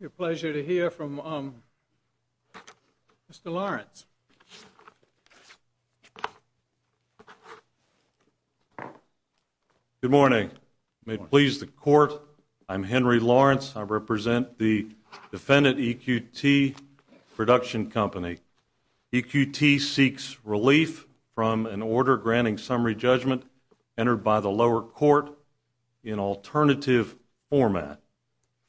It's a pleasure to hear from Mr. Lawrence. Good morning. May it please the Court, I'm Henry Lawrence. I represent the defendant, EQT Production Company. EQT seeks relief from an order granting summary judgment entered by the lower court in alternative format.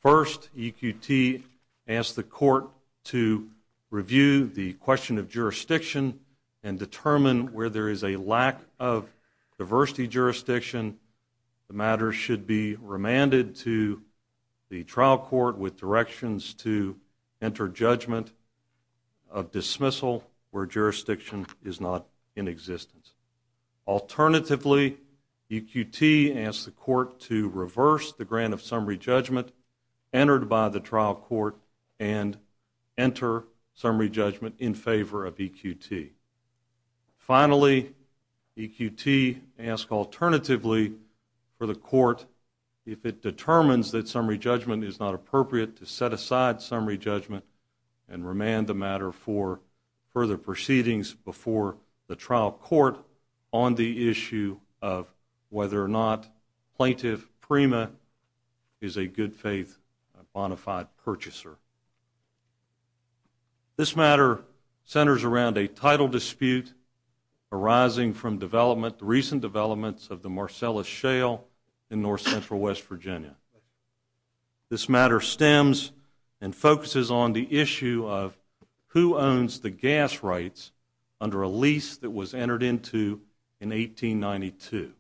First, EQT asks the court to review the question of jurisdiction and determine where there is a lack of diversity jurisdiction. The matter should be remanded to the trial court with directions to enter judgment of dismissal where jurisdiction is not in existence. Alternatively, EQT asks the court to reverse the grant of summary judgment entered by the trial court and enter summary judgment in favor of EQT. Finally, EQT asks alternatively for the court, if it determines that summary judgment is not appropriate, to set aside summary judgment and remand the matter for further proceedings before the trial court on the issue of whether or not Plaintiff Prima is a good-faith bonafide purchaser. This matter centers around a title dispute arising from development, recent developments of the Marcellus Shale in north-central West Virginia. This matter stems and focuses on the issue of who owns the gas rights under a lease that was entered into in 1892.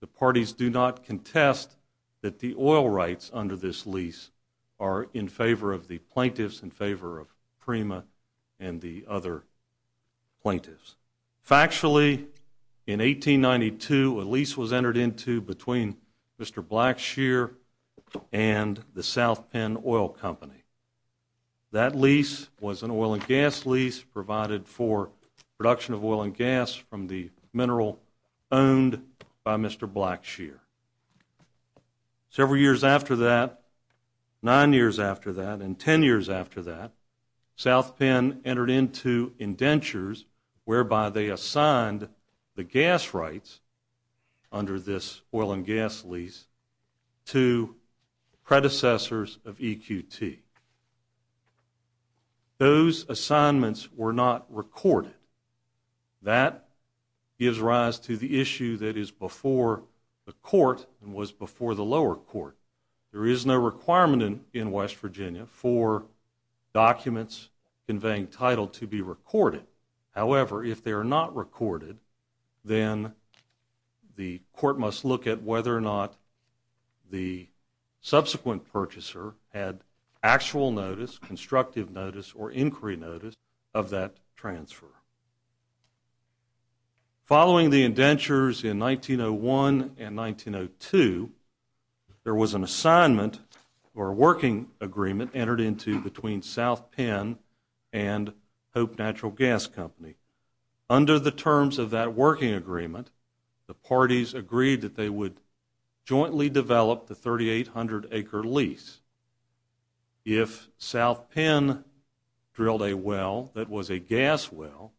The parties do not contest that the oil rights under this lease are in favor of the plaintiffs, in favor of Prima and the other plaintiffs. Factually, in 1892, a lease was entered into between Mr. Blackshear and the South Penn Oil Company. That lease was an oil and gas lease provided for production of oil and gas from the mineral owned by Mr. Blackshear. Several years after that, nine years after that, and ten years after that, South Penn entered into indentures whereby they assigned the gas rights under this oil and gas lease to predecessors of EQT. Those assignments were not recorded. That gives rise to the issue that is before the court and was before the lower court. There is no requirement in West Virginia for documents conveying title to be recorded. However, if they are not recorded, then the court must look at whether or not the subsequent purchaser had actual notice, constructive notice, or inquiry notice of that transfer. Following the indentures in 1901 and 1902, there was an assignment, or a working agreement, entered into between South Penn and Hope Natural Gas Company. Under the terms of that working agreement, the parties agreed that they would jointly develop the 3,800-acre lease. If South Penn drilled a well that was a gas well,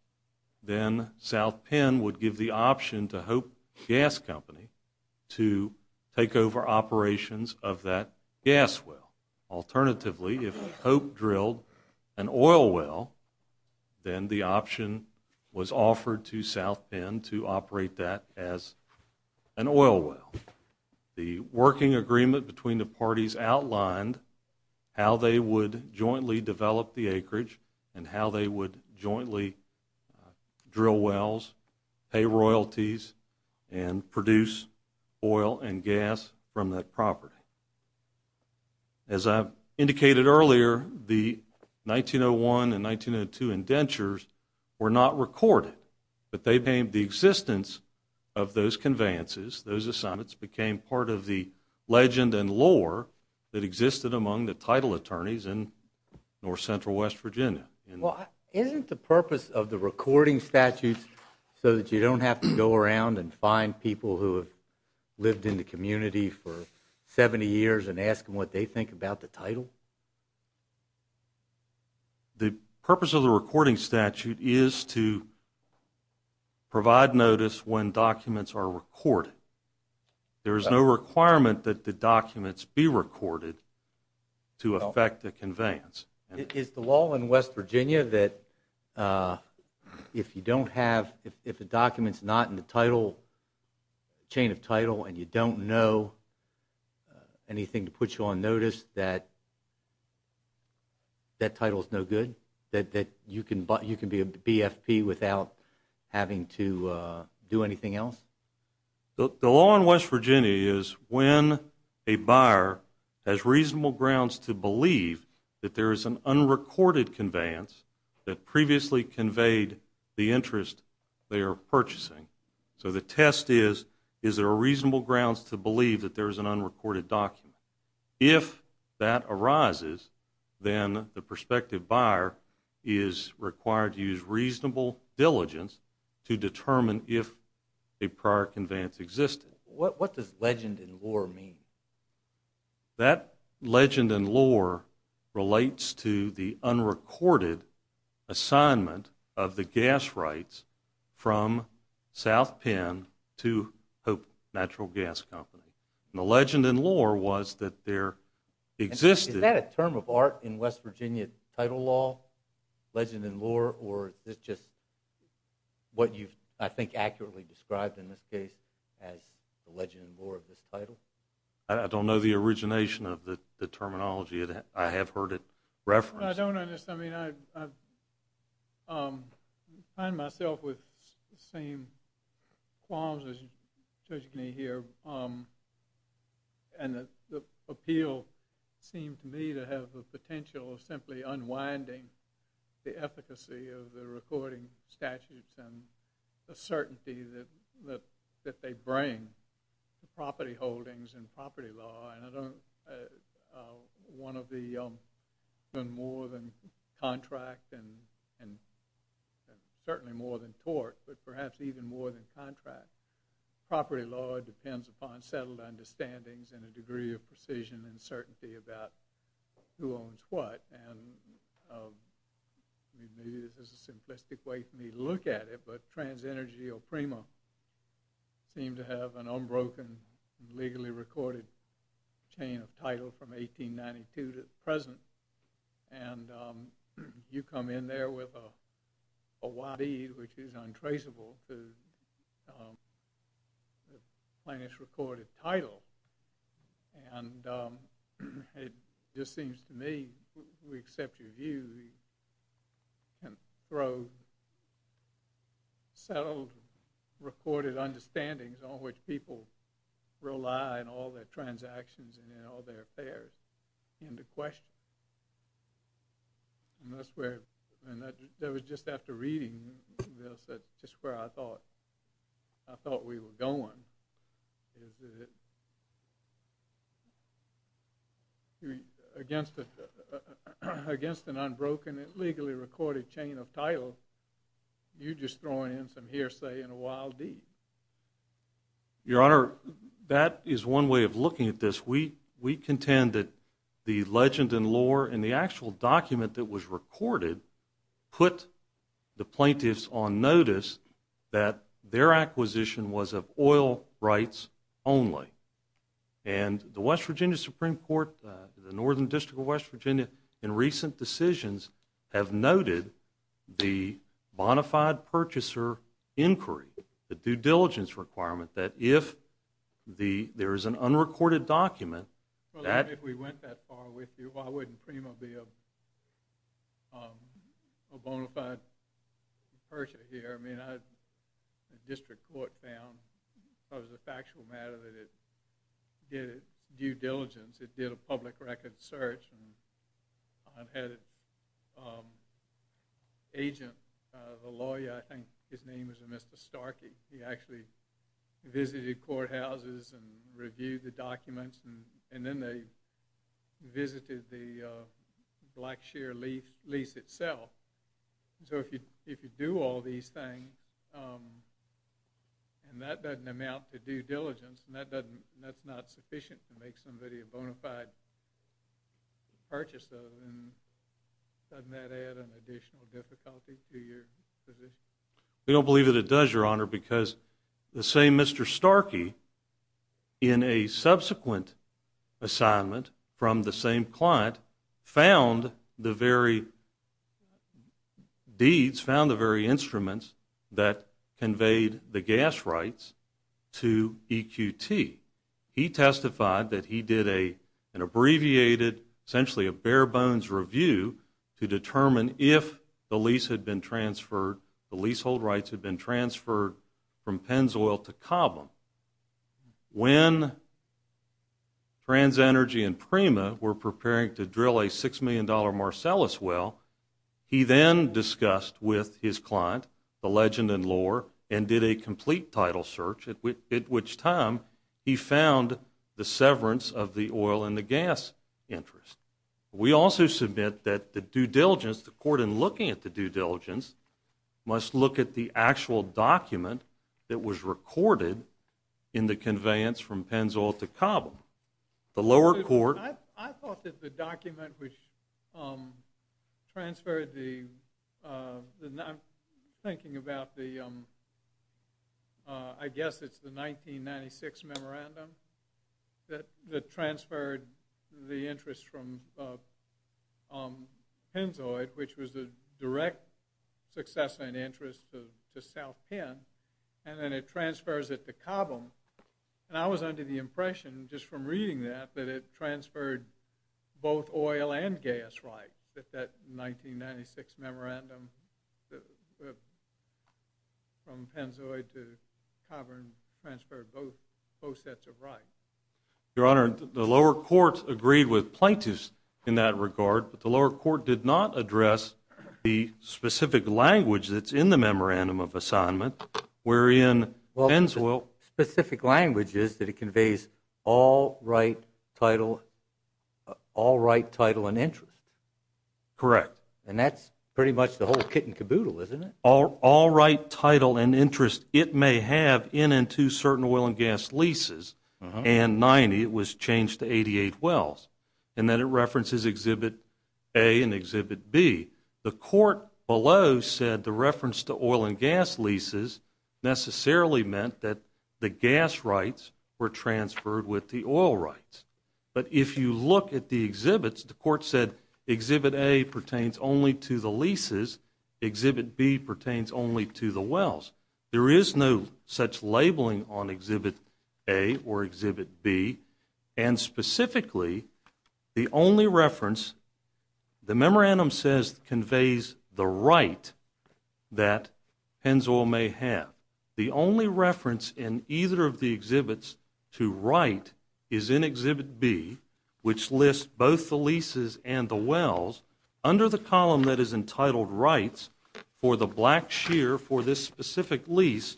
then South Penn would give the option to Hope Gas Company to take over operations of that gas well. Alternatively, if Hope drilled an oil well, then the option was offered to South Penn to operate that as an oil well. The working agreement between the parties outlined how they would jointly develop the acreage and how they would jointly drill wells, pay royalties, and produce oil and gas from that property. As I indicated earlier, the 1901 and 1902 indentures were not recorded, but they became the existence of those conveyances. that existed among the title attorneys in north-central West Virginia. Isn't the purpose of the recording statute so that you don't have to go around and find people who have lived in the community for 70 years and ask them what they think about the title? The purpose of the recording statute is to provide notice when documents are recorded. There is no requirement that the documents be recorded to affect the conveyance. Is the law in West Virginia that if you don't have, if a document's not in the chain of title and you don't know anything to put you on notice, that that title's no good? That you can be a BFP without having to do anything else? The law in West Virginia is when a buyer has reasonable grounds to believe that there is an unrecorded conveyance that previously conveyed the interest they are purchasing. So the test is, is there a reasonable grounds to believe that there is an unrecorded document? If that arises, then the prospective buyer is required to use reasonable diligence to determine if a prior conveyance existed. What does legend and lore mean? That legend and lore relates to the unrecorded assignment of the gas rights from South Penn to Hope Natural Gas Company. The legend and lore was that there existed... Is that a term of art in West Virginia title law? Legend and lore? Or is it just what you've, I think, accurately described in this case as the legend and lore of this title? I don't know the origination of the terminology. I have heard it referenced. I don't understand. I mean, I find myself with the same qualms as Judge Knee here. And the appeal seemed to me to have the potential of simply unwinding the efficacy of the recording statutes and the certainty that they bring to property holdings and property law. One of the more than contract and certainly more than tort, but perhaps even more than contract, property law depends upon settled understandings and a degree of precision and certainty about who owns what. And maybe this is a simplistic way for me to look at it, but TransEnergy or Primo seem to have an unbroken, legally recorded chain of title from 1892 to the present. And you come in there with a wide bead, which is untraceable to the plainest recorded title. And it just seems to me we accept your view and throw settled, recorded understandings on which people rely on all their transactions and all their affairs into question. And that's where, and that was just after reading this, that's just where I thought we were going, is that against an unbroken, legally recorded chain of title, you're just throwing in some hearsay and a wild deed. Your Honor, that is one way of looking at this. We contend that the legend and lore and the actual document that was recorded put the plaintiffs on notice that their acquisition was of oil rights only. And the West Virginia Supreme Court, the Northern District of West Virginia, in recent decisions, have noted the bona fide purchaser inquiry, the due diligence requirement, that if there is an unrecorded document... Well, if we went that far with you, why wouldn't Primo be a bona fide purchaser here? I mean, the district court found, because of the factual matter, that it did due diligence, it did a public record search. I've had an agent, a lawyer, I think his name was Mr. Starkey, he actually visited courthouses and reviewed the documents, and then they visited the Black Shear lease itself. So if you do all these things, and that doesn't amount to due diligence, and that's not sufficient to make somebody a bona fide purchaser, doesn't that add an additional difficulty to your position? We don't believe that it does, Your Honor, because the same Mr. Starkey, in a subsequent assignment from the same client, found the very deeds, found the very instruments that conveyed the gas rights to EQT. He testified that he did an abbreviated, essentially a bare-bones review to determine if the lease had been transferred, the leasehold rights had been transferred from Pennzoil to Cobham. When TransEnergy and Primo were preparing to drill a $6 million Marcellus well, he then discussed with his client, the legend and lore, and did a complete title search, at which time he found the severance of the oil and the gas interest. We also submit that the due diligence, the court in looking at the due diligence, must look at the actual document that was recorded in the conveyance from Pennzoil to Cobham. The lower court... transferred the... I'm thinking about the... I guess it's the 1996 memorandum that transferred the interest from Pennzoil, which was the direct successor in interest to South Penn, and then it transfers it to Cobham. And I was under the impression, just from reading that, that it transferred both oil and gas rights at that 1996 memorandum from Pennzoil to Cobham, transferred both sets of rights. Your Honor, the lower court agreed with plaintiffs in that regard, but the lower court did not address the specific language that's in the memorandum of assignment, wherein Pennzoil... Well, the specific language is that it conveys all right title and interest. Correct. And that's pretty much the whole kit and caboodle, isn't it? All right title and interest it may have in and to certain oil and gas leases, and 90, it was changed to 88 wells, and then it references Exhibit A and Exhibit B. The court below said the reference to oil and gas leases necessarily meant that the gas rights were transferred with the oil rights. But if you look at the exhibits, the court said Exhibit A pertains only to the leases, Exhibit B pertains only to the wells. There is no such labeling on Exhibit A or Exhibit B, and specifically, the only reference the memorandum says conveys the right that Pennzoil may have. The only reference in either of the exhibits to right is in Exhibit B, which lists both the leases and the wells. Under the column that is entitled Rights for the Black Shear for this specific lease,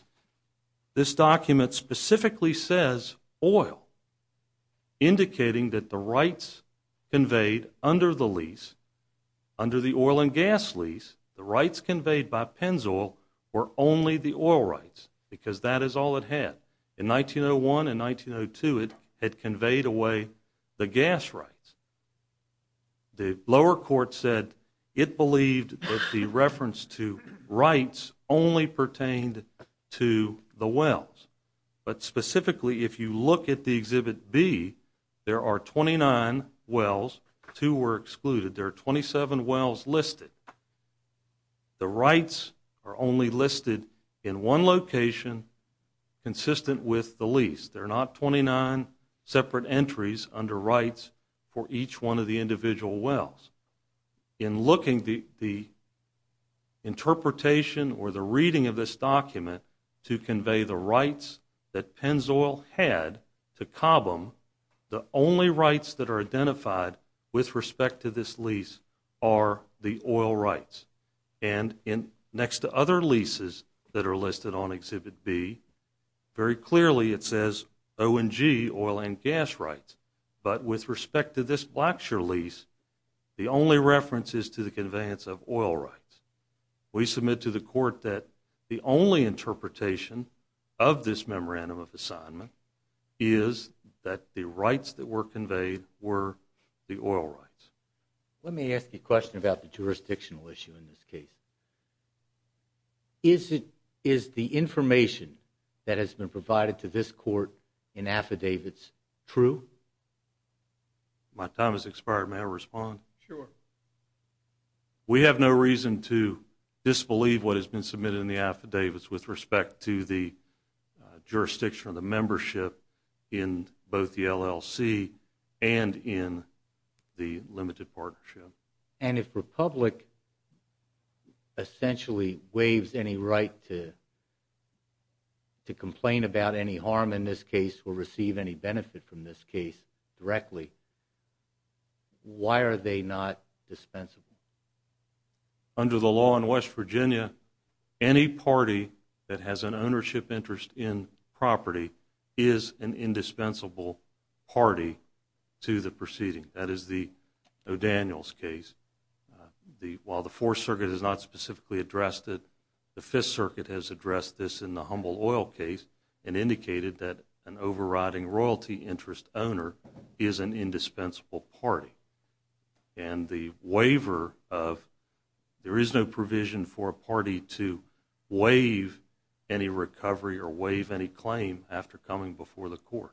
this document specifically says oil, indicating that the rights conveyed under the lease, under the oil and gas lease, the rights conveyed by Pennzoil were only the oil rights because that is all it had. In 1901 and 1902, it had conveyed away the gas rights. The lower court said it believed that the reference to rights only pertained to the wells. But specifically, if you look at the Exhibit B, there are 29 wells, two were excluded, there are 27 wells listed. The rights are only listed in one location consistent with the lease. There are not 29 separate entries under rights for each one of the individual wells. In looking at the interpretation or the reading of this document to convey the rights that Pennzoil had to Cobham, the only rights that are identified with respect to this lease are the oil rights. And next to other leases that are listed on Exhibit B, very clearly it says O and G, oil and gas rights. But with respect to this Black Shear lease, the only reference is to the conveyance of oil rights. We submit to the court that the only interpretation of this memorandum of assignment is that the rights that were conveyed were the oil rights. Let me ask you a question about the jurisdictional issue in this case. Is the information that has been provided to this court in affidavits true? My time has expired. May I respond? Sure. We have no reason to disbelieve what has been submitted in the affidavits with respect to the jurisdiction or the membership in both the LLC and in the limited partnership. And if Republic essentially waives any right to complain about any harm in this case or receive any benefit from this case directly, why are they not dispensable? Under the law in West Virginia, any party that has an ownership interest in property is an indispensable party to the proceeding. That is the O'Daniels case. While the Fourth Circuit has not specifically addressed it, the Fifth Circuit has addressed this in the Humble Oil case and indicated that an overriding royalty interest owner is an indispensable party. And the waiver of there is no provision for a party to waive any recovery or waive any claim after coming before the court.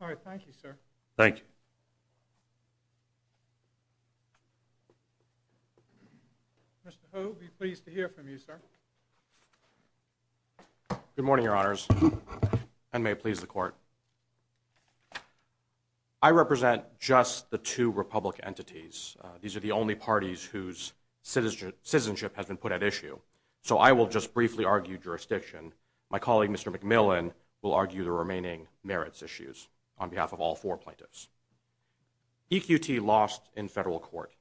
All right. Thank you, sir. Thank you. Mr. Hogue, we're pleased to hear from you, sir. Good morning, Your Honors, and may it please the Court. I represent just the two Republic entities. These are the only parties whose citizenship has been put at issue, so I will just briefly argue jurisdiction. My colleague, Mr. McMillan, will argue the remaining merits issues on behalf of all four plaintiffs. EQT lost in federal court,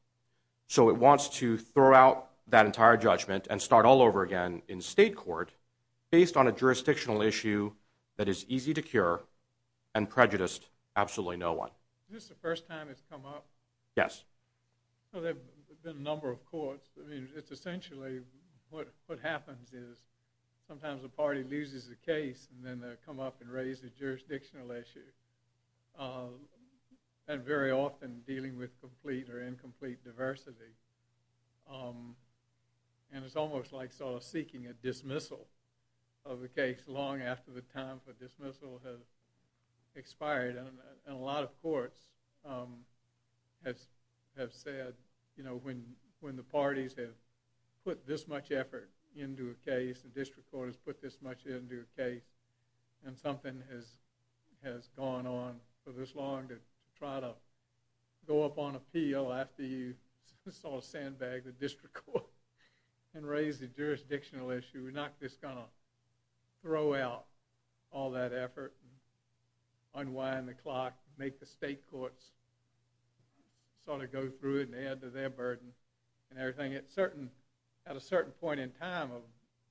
so it wants to throw out that entire judgment and start all over again in state court based on a jurisdictional issue that is easy to cure and prejudiced absolutely no one. Is this the first time it's come up? Yes. Well, there have been a number of courts. I mean, it's essentially what happens is sometimes a party loses a case and then they come up and raise a jurisdictional issue, and very often dealing with complete or incomplete diversity. And it's almost like sort of seeking a dismissal of a case long after the time for dismissal has expired. And a lot of courts have said, you know, when the parties have put this much effort into a case, the district court has put this much into a case, and something has gone on for this long to try to go up on appeal after you sort of sandbag the district court and raise the jurisdictional issue. We're not just going to throw out all that effort, unwind the clock, make the state courts sort of go through it and add to their burden and everything. At a certain point in time,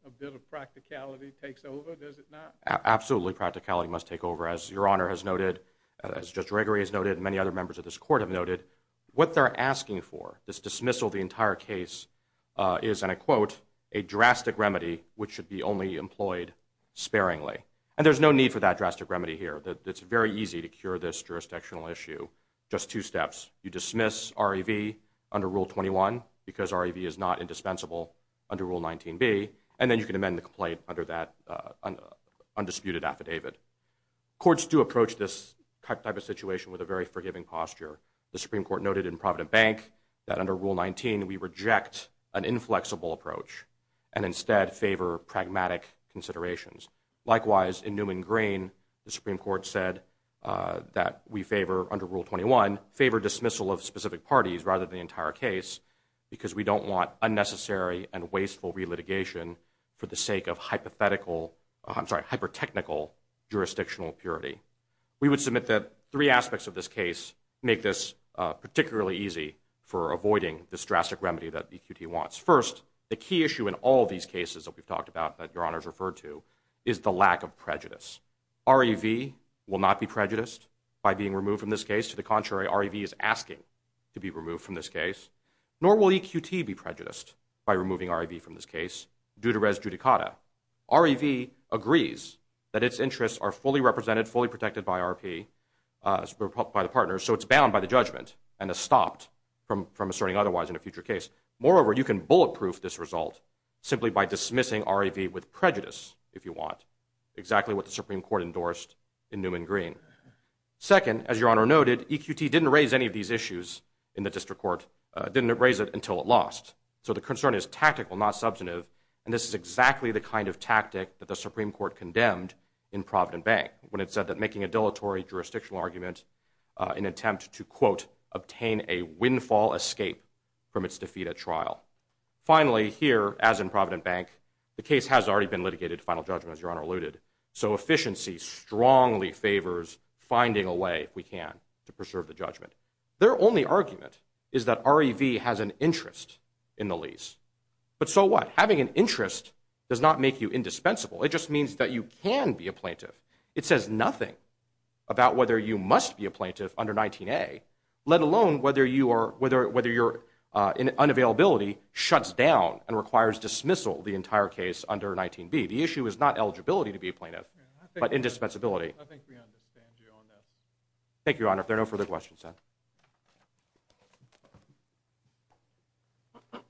a bit of practicality takes over, does it not? Absolutely practicality must take over. As Your Honor has noted, as Judge Gregory has noted, and many other members of this court have noted, what they're asking for, this dismissal of the entire case, is, and I quote, a drastic remedy which should be only employed sparingly. And there's no need for that drastic remedy here. It's very easy to cure this jurisdictional issue, just two steps. You dismiss REV under Rule 21, because REV is not indispensable under Rule 19b, and then you can amend the complaint under that undisputed affidavit. Courts do approach this type of situation with a very forgiving posture. The Supreme Court noted in Provident Bank that under Rule 19 we reject an inflexible approach and instead favor pragmatic considerations. Likewise, in Newman Green, the Supreme Court said that we favor, under Rule 21, favor dismissal of specific parties rather than the entire case, because we don't want unnecessary and wasteful re-litigation for the sake of hypothetical, I'm sorry, hyper-technical jurisdictional purity. We would submit that three aspects of this case make this particularly easy for avoiding this drastic remedy that EQT wants. First, the key issue in all these cases that we've talked about, that Your Honors referred to, is the lack of prejudice. REV will not be prejudiced by being removed from this case. To the contrary, REV is asking to be removed from this case. Nor will EQT be prejudiced by removing REV from this case, due to res judicata. REV agrees that its interests are fully represented, fully protected by RP, by the partners, so it's bound by the judgment and is stopped from asserting otherwise in a future case. Moreover, you can bulletproof this result simply by dismissing REV with prejudice, if you want, exactly what the Supreme Court endorsed in Newman Green. Second, as Your Honor noted, EQT didn't raise any of these issues in the district court, didn't raise it until it lost. So the concern is tactical, not substantive, and this is exactly the kind of tactic that the Supreme Court condemned in Provident Bank, when it said that making a dilatory jurisdictional argument in an attempt to, quote, obtain a windfall escape from its defeat at trial. Finally, here, as in Provident Bank, the case has already been litigated to final judgment, as Your Honor alluded, so efficiency strongly favors finding a way, if we can, to preserve the judgment. Their only argument is that REV has an interest in the lease. But so what? Having an interest does not make you indispensable. It just means that you can be a plaintiff. It says nothing about whether you must be a plaintiff under 19A, let alone whether your unavailability shuts down and requires dismissal the entire case under 19B. The issue is not eligibility to be a plaintiff, but indispensability. I think we understand you on that. Thank you, Your Honor. If there are no further questions, sir.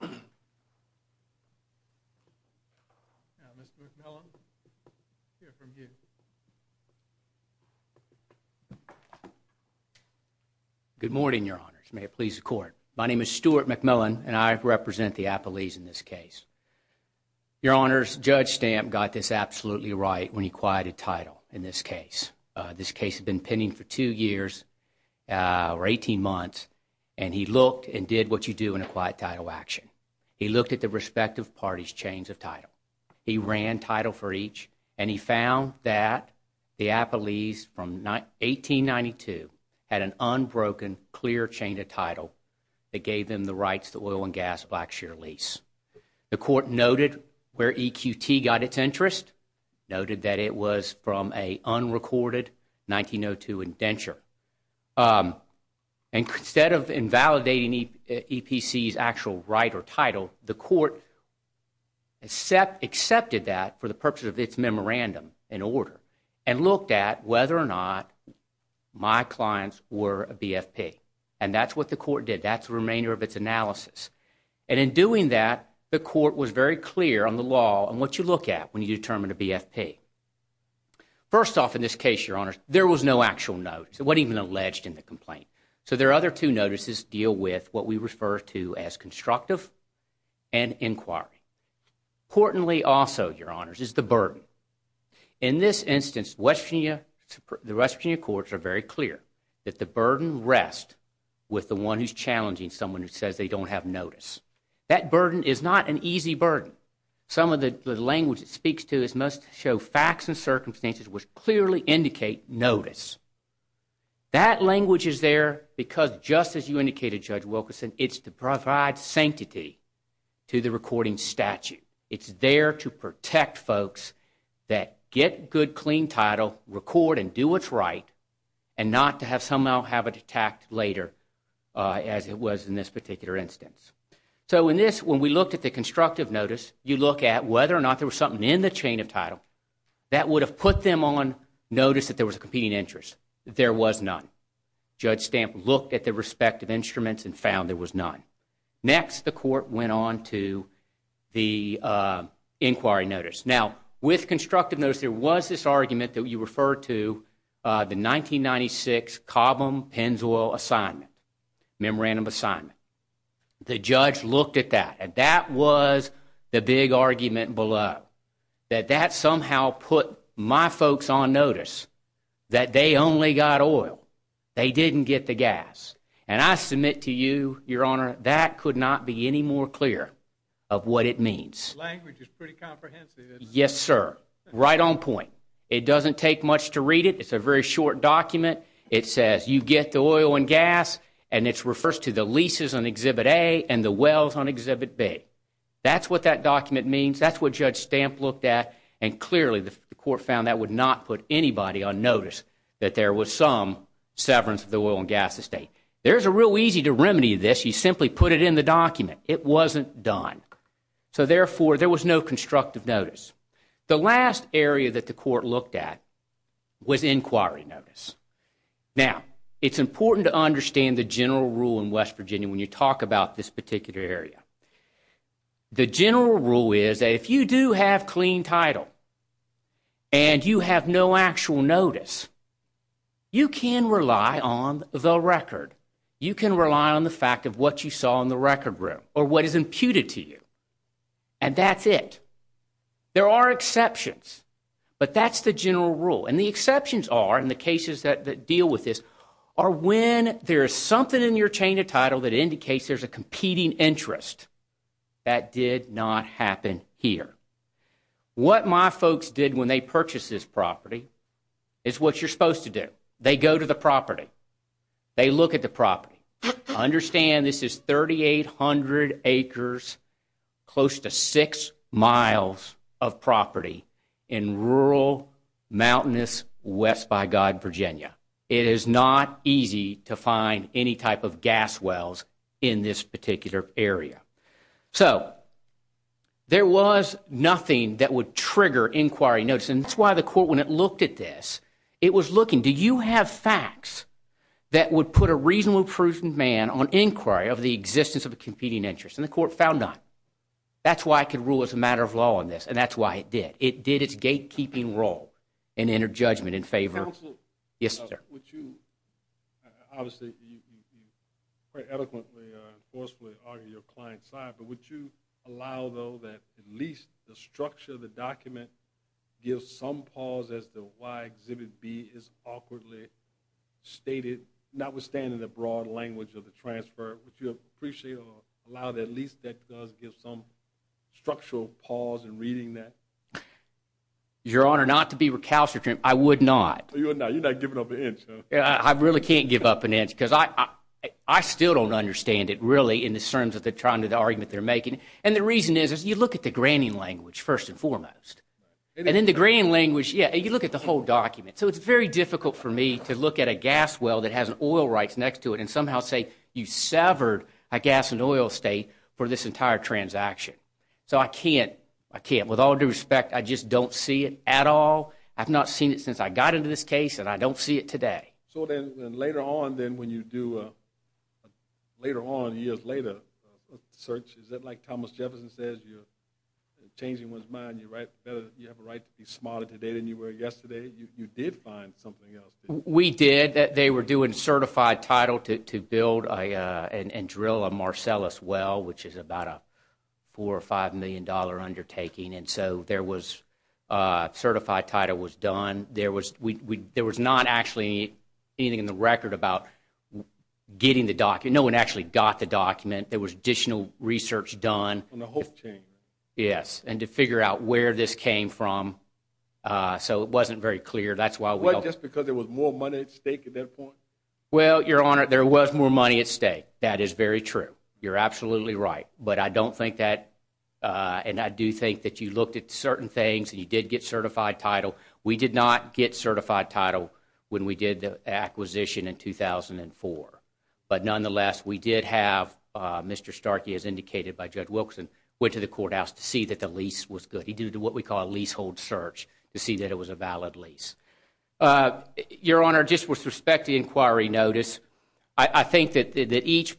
Now, Mr. McMillan, we'll hear from you. Good morning, Your Honors. May it please the Court. My name is Stuart McMillan, and I represent the Appalachians in this case. Your Honors, Judge Stamp got this absolutely right when he quieted title in this case. This case had been pending for two years, or 18 months, and he looked and did what you do in a quiet title action. He looked at the respective parties' chains of title. He ran title for each, and he found that the Appalachians from 1892 had an unbroken, clear chain of title that gave them the rights to oil and gas, black share lease. The Court noted where EQT got its interest, noted that it was from an unrecorded 1902 indenture. Instead of invalidating EPC's actual right or title, the Court accepted that for the purpose of its memorandum in order and looked at whether or not my clients were a BFP. And that's what the Court did. That's the remainder of its analysis. And in doing that, the Court was very clear on the law and what you look at when you determine a BFP. First off in this case, Your Honors, there was no actual notice. It wasn't even alleged in the complaint. So their other two notices deal with what we refer to as constructive and inquiry. Importantly also, Your Honors, is the burden. In this instance, the West Virginia courts are very clear that the burden rests with the one who's challenging someone who says they don't have notice. That burden is not an easy burden. Some of the language it speaks to is most show facts and circumstances which clearly indicate notice. That language is there because, just as you indicated, Judge Wilkerson, it's to provide sanctity to the recording statute. It's there to protect folks that get good, clean title, record and do what's right, and not to have somehow have it attacked later as it was in this particular instance. So in this, when we looked at the constructive notice, you look at whether or not there was something in the chain of title that would have put them on notice that there was a competing interest. There was none. Judge Stamp looked at the respective instruments and found there was none. Next, the Court went on to the inquiry notice. Now, with constructive notice, there was this argument that you referred to, the 1996 Cobham-Penswell assignment, memorandum assignment. The judge looked at that, and that was the big argument below, that that somehow put my folks on notice that they only got oil. They didn't get the gas. And I submit to you, Your Honor, that could not be any more clear of what it means. The language is pretty comprehensive. Yes, sir. Right on point. It doesn't take much to read it. It's a very short document. It says you get the oil and gas, and it refers to the leases on Exhibit A and the wells on Exhibit B. That's what that document means. That's what Judge Stamp looked at, and clearly the Court found that would not put anybody on notice that there was some severance of the oil and gas estate. There's a real easy remedy to this. You simply put it in the document. It wasn't done. So, therefore, there was no constructive notice. The last area that the Court looked at was inquiry notice. Now, it's important to understand the general rule in West Virginia when you talk about this particular area. The general rule is that if you do have clean title and you have no actual notice, you can rely on the record. You can rely on the fact of what you saw in the record room or what is imputed to you, and that's it. There are exceptions, but that's the general rule. And the exceptions are, in the cases that deal with this, are when there is something in your chain of title that indicates there's a competing interest. That did not happen here. What my folks did when they purchased this property is what you're supposed to do. They go to the property. They look at the property. Understand this is 3,800 acres, close to 6 miles of property in rural, mountainous West by God Virginia. It is not easy to find any type of gas wells in this particular area. So, there was nothing that would trigger inquiry notice, and that's why the Court, when it looked at this, it was looking, do you have facts that would put a reasonable, prudent man on inquiry of the existence of a competing interest? And the Court found none. That's why it could rule it's a matter of law on this, and that's why it did. It did its gatekeeping role in inner judgment in favor of... Counsel. Yes, sir. Would you, obviously, quite eloquently or forcefully argue your client's side, but would you allow, though, that at least the structure of the document gives some pause as to why Exhibit B is awkwardly stated, notwithstanding the broad language of the transfer, would you appreciate or allow that at least that does give some structural pause in reading that? Your Honor, not to be recalcitrant, I would not. You would not. You're not giving up an inch. I really can't give up an inch because I still don't understand it, really, in the terms of the argument they're making. And the reason is you look at the granting language, first and foremost. And in the granting language, yeah, you look at the whole document. So it's very difficult for me to look at a gas well that has an oil rights next to it and somehow say you severed a gas and oil estate for this entire transaction. So I can't. I can't. With all due respect, I just don't see it at all. I've not seen it since I got into this case, and I don't see it today. So then later on, then, when you do later on, years later, search, is that like Thomas Jefferson says, you're changing one's mind, you have a right to be smarter today than you were yesterday? You did find something else. We did. They were doing certified title to build and drill a Marcellus well, which is about a $4 million or $5 million undertaking. And so there was certified title was done. There was not actually anything in the record about getting the document. No one actually got the document. There was additional research done. On the whole thing. Yes, and to figure out where this came from. So it wasn't very clear. What, just because there was more money at stake at that point? Well, Your Honor, there was more money at stake. That is very true. You're absolutely right. But I don't think that, and I do think that you looked at certain things and you did get certified title. We did not get certified title when we did the acquisition in 2004. But nonetheless, we did have Mr. Starkey, as indicated by Judge Wilkinson, went to the courthouse to see that the lease was good. He did what we call a leasehold search to see that it was a valid lease. Your Honor, just with respect to the inquiry notice, I think that each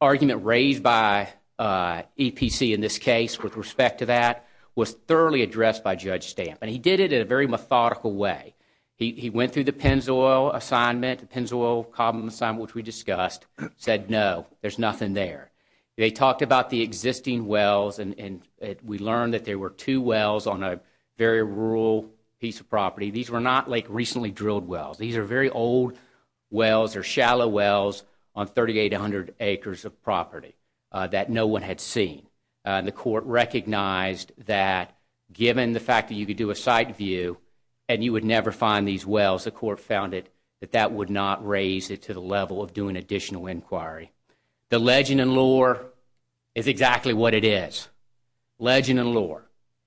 argument raised by EPC in this case with respect to that was thoroughly addressed by Judge Stamp. And he did it in a very methodical way. He went through the Pennzoil assignment, the Pennzoil column assignment, which we discussed, said no, there's nothing there. They talked about the existing wells, and we learned that there were two wells on a very rural piece of property. These were not like recently drilled wells. These are very old wells or shallow wells on 3,800 acres of property that no one had seen. And the court recognized that given the fact that you could do a site view and you would never find these wells, the court found that that would not raise it to the level of doing additional inquiry. The legend and lore is exactly what it is, legend and lore.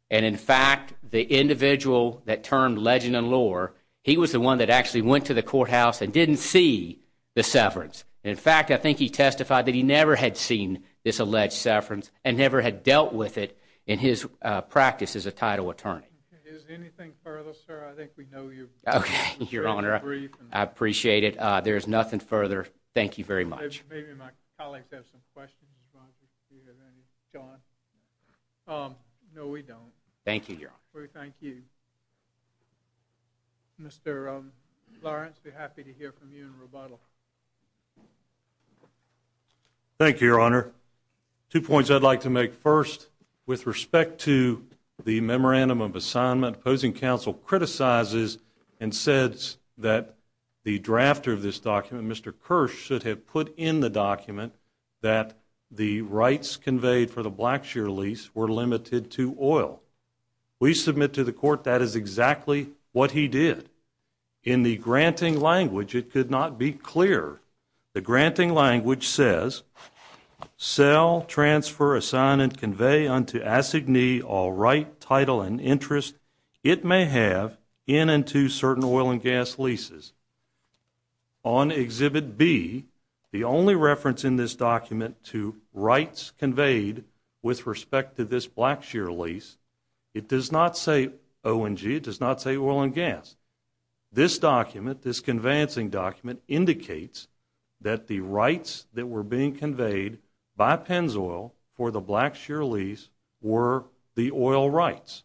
And in fact, the individual that termed legend and lore, he was the one that actually went to the courthouse and didn't see the severance. In fact, I think he testified that he never had seen this alleged severance and never had dealt with it in his practice as a title attorney. Is there anything further, sir? I think we know you. Okay, Your Honor, I appreciate it. There is nothing further. Thank you very much. Maybe my colleagues have some questions. Do you have any, John? No, we don't. Thank you, Your Honor. We thank you. Mr. Lawrence, we're happy to hear from you in rebuttal. Thank you, Your Honor. Two points I'd like to make. First, with respect to the memorandum of assignment, opposing counsel criticizes and says that the drafter of this document, Mr. Kirsch, should have put in the document that the rights conveyed for the Blackshear lease were limited to oil. We submit to the court that is exactly what he did. In the granting language, it could not be clearer. The granting language says, sell, transfer, assign, and convey unto assignee all right, title, and interest it may have in and to certain oil and gas leases. On Exhibit B, the only reference in this document to rights conveyed with respect to this Blackshear lease, it does not say O&G. It does not say oil and gas. This document, this conveyancing document, indicates that the rights that were being conveyed by Pennzoil for the Blackshear lease were the oil rights.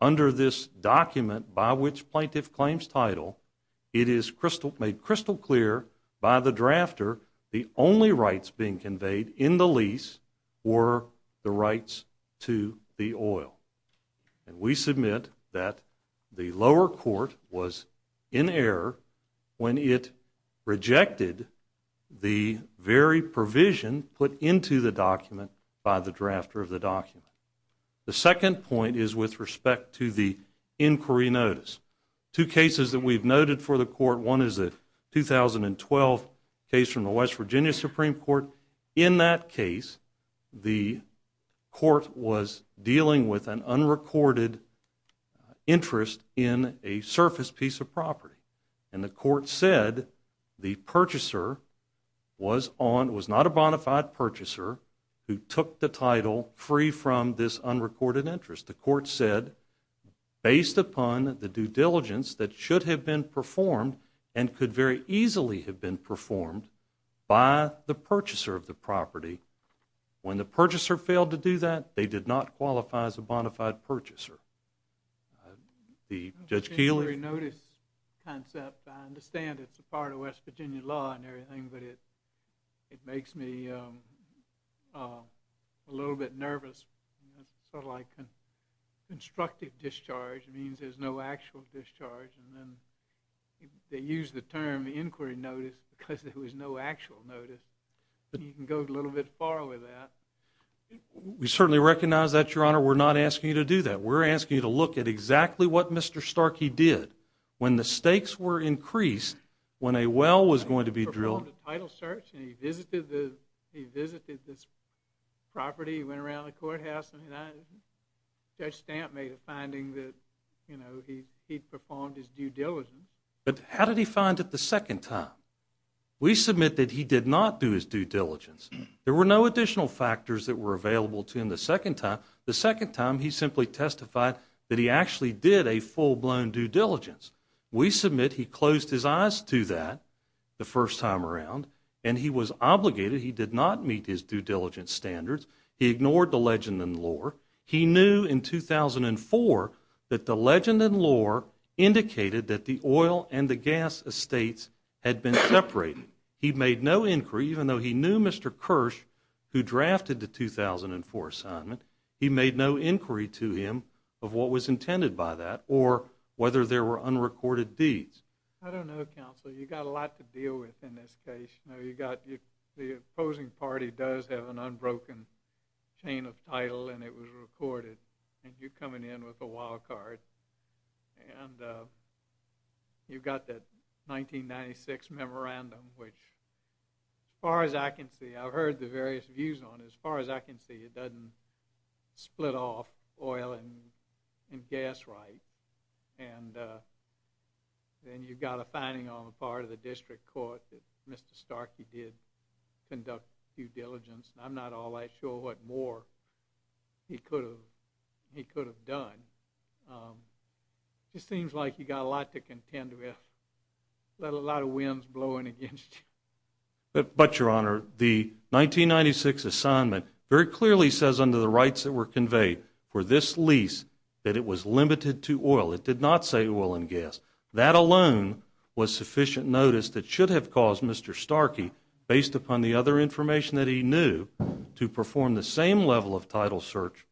Under this document, by which plaintiff claims title, it is made crystal clear by the drafter the only rights being conveyed in the lease were the rights to the oil. We submit that the lower court was in error when it rejected the very provision put into the document by the drafter of the document. The second point is with respect to the inquiry notice. Two cases that we've noted for the court, one is the 2012 case from the West Virginia Supreme Court. In that case, the court was dealing with an unrecorded interest in a surface piece of property. And the court said the purchaser was not a bona fide purchaser who took the title free from this unrecorded interest. The court said based upon the due diligence that should have been When the purchaser failed to do that, they did not qualify as a bona fide purchaser. The Judge Keeley? The inquiry notice concept, I understand it's a part of West Virginia law and everything, but it makes me a little bit nervous. Sort of like constructive discharge means there's no actual discharge. And then they use the term inquiry notice because there was no actual notice. You can go a little bit far with that. We certainly recognize that, Your Honor. We're not asking you to do that. We're asking you to look at exactly what Mr. Starkey did when the stakes were increased when a well was going to be drilled. He performed a title search and he visited this property. He went around the courthouse. Judge Stamp made a finding that he performed his due diligence. But how did he find it the second time? We submit that he did not do his due diligence. There were no additional factors that were available to him the second time. The second time, he simply testified that he actually did a full-blown due diligence. We submit he closed his eyes to that the first time around, and he was obligated. He did not meet his due diligence standards. He ignored the legend and lore. He knew in 2004 that the legend and lore indicated that the oil and the gas estates had been separated. He made no inquiry, even though he knew Mr. Kirsch, who drafted the 2004 assignment, he made no inquiry to him of what was intended by that or whether there were unrecorded deeds. I don't know, Counselor. You've got a lot to deal with in this case. You know, you've got the opposing party does have an unbroken chain of title and it was recorded, and you're coming in with a wild card. And you've got that 1996 memorandum, which as far as I can see, I've heard the various views on it. As far as I can see, it doesn't split off oil and gas right. And then you've got a finding on the part of the district court that Mr. Starkey did conduct due diligence. I'm not all that sure what more he could have done. It just seems like you've got a lot to contend with, a lot of winds blowing against you. But, Your Honor, the 1996 assignment very clearly says under the rights that were conveyed for this lease that it was limited to oil. It did not say oil and gas. That alone was sufficient notice that should have caused Mr. Starkey, based upon the other information that he knew, to perform the same level of title search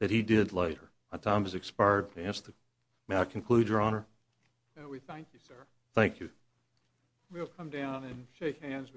that he did later. My time has expired. May I conclude, Your Honor? No, we thank you, sir. Thank you. We'll come down and shake hands.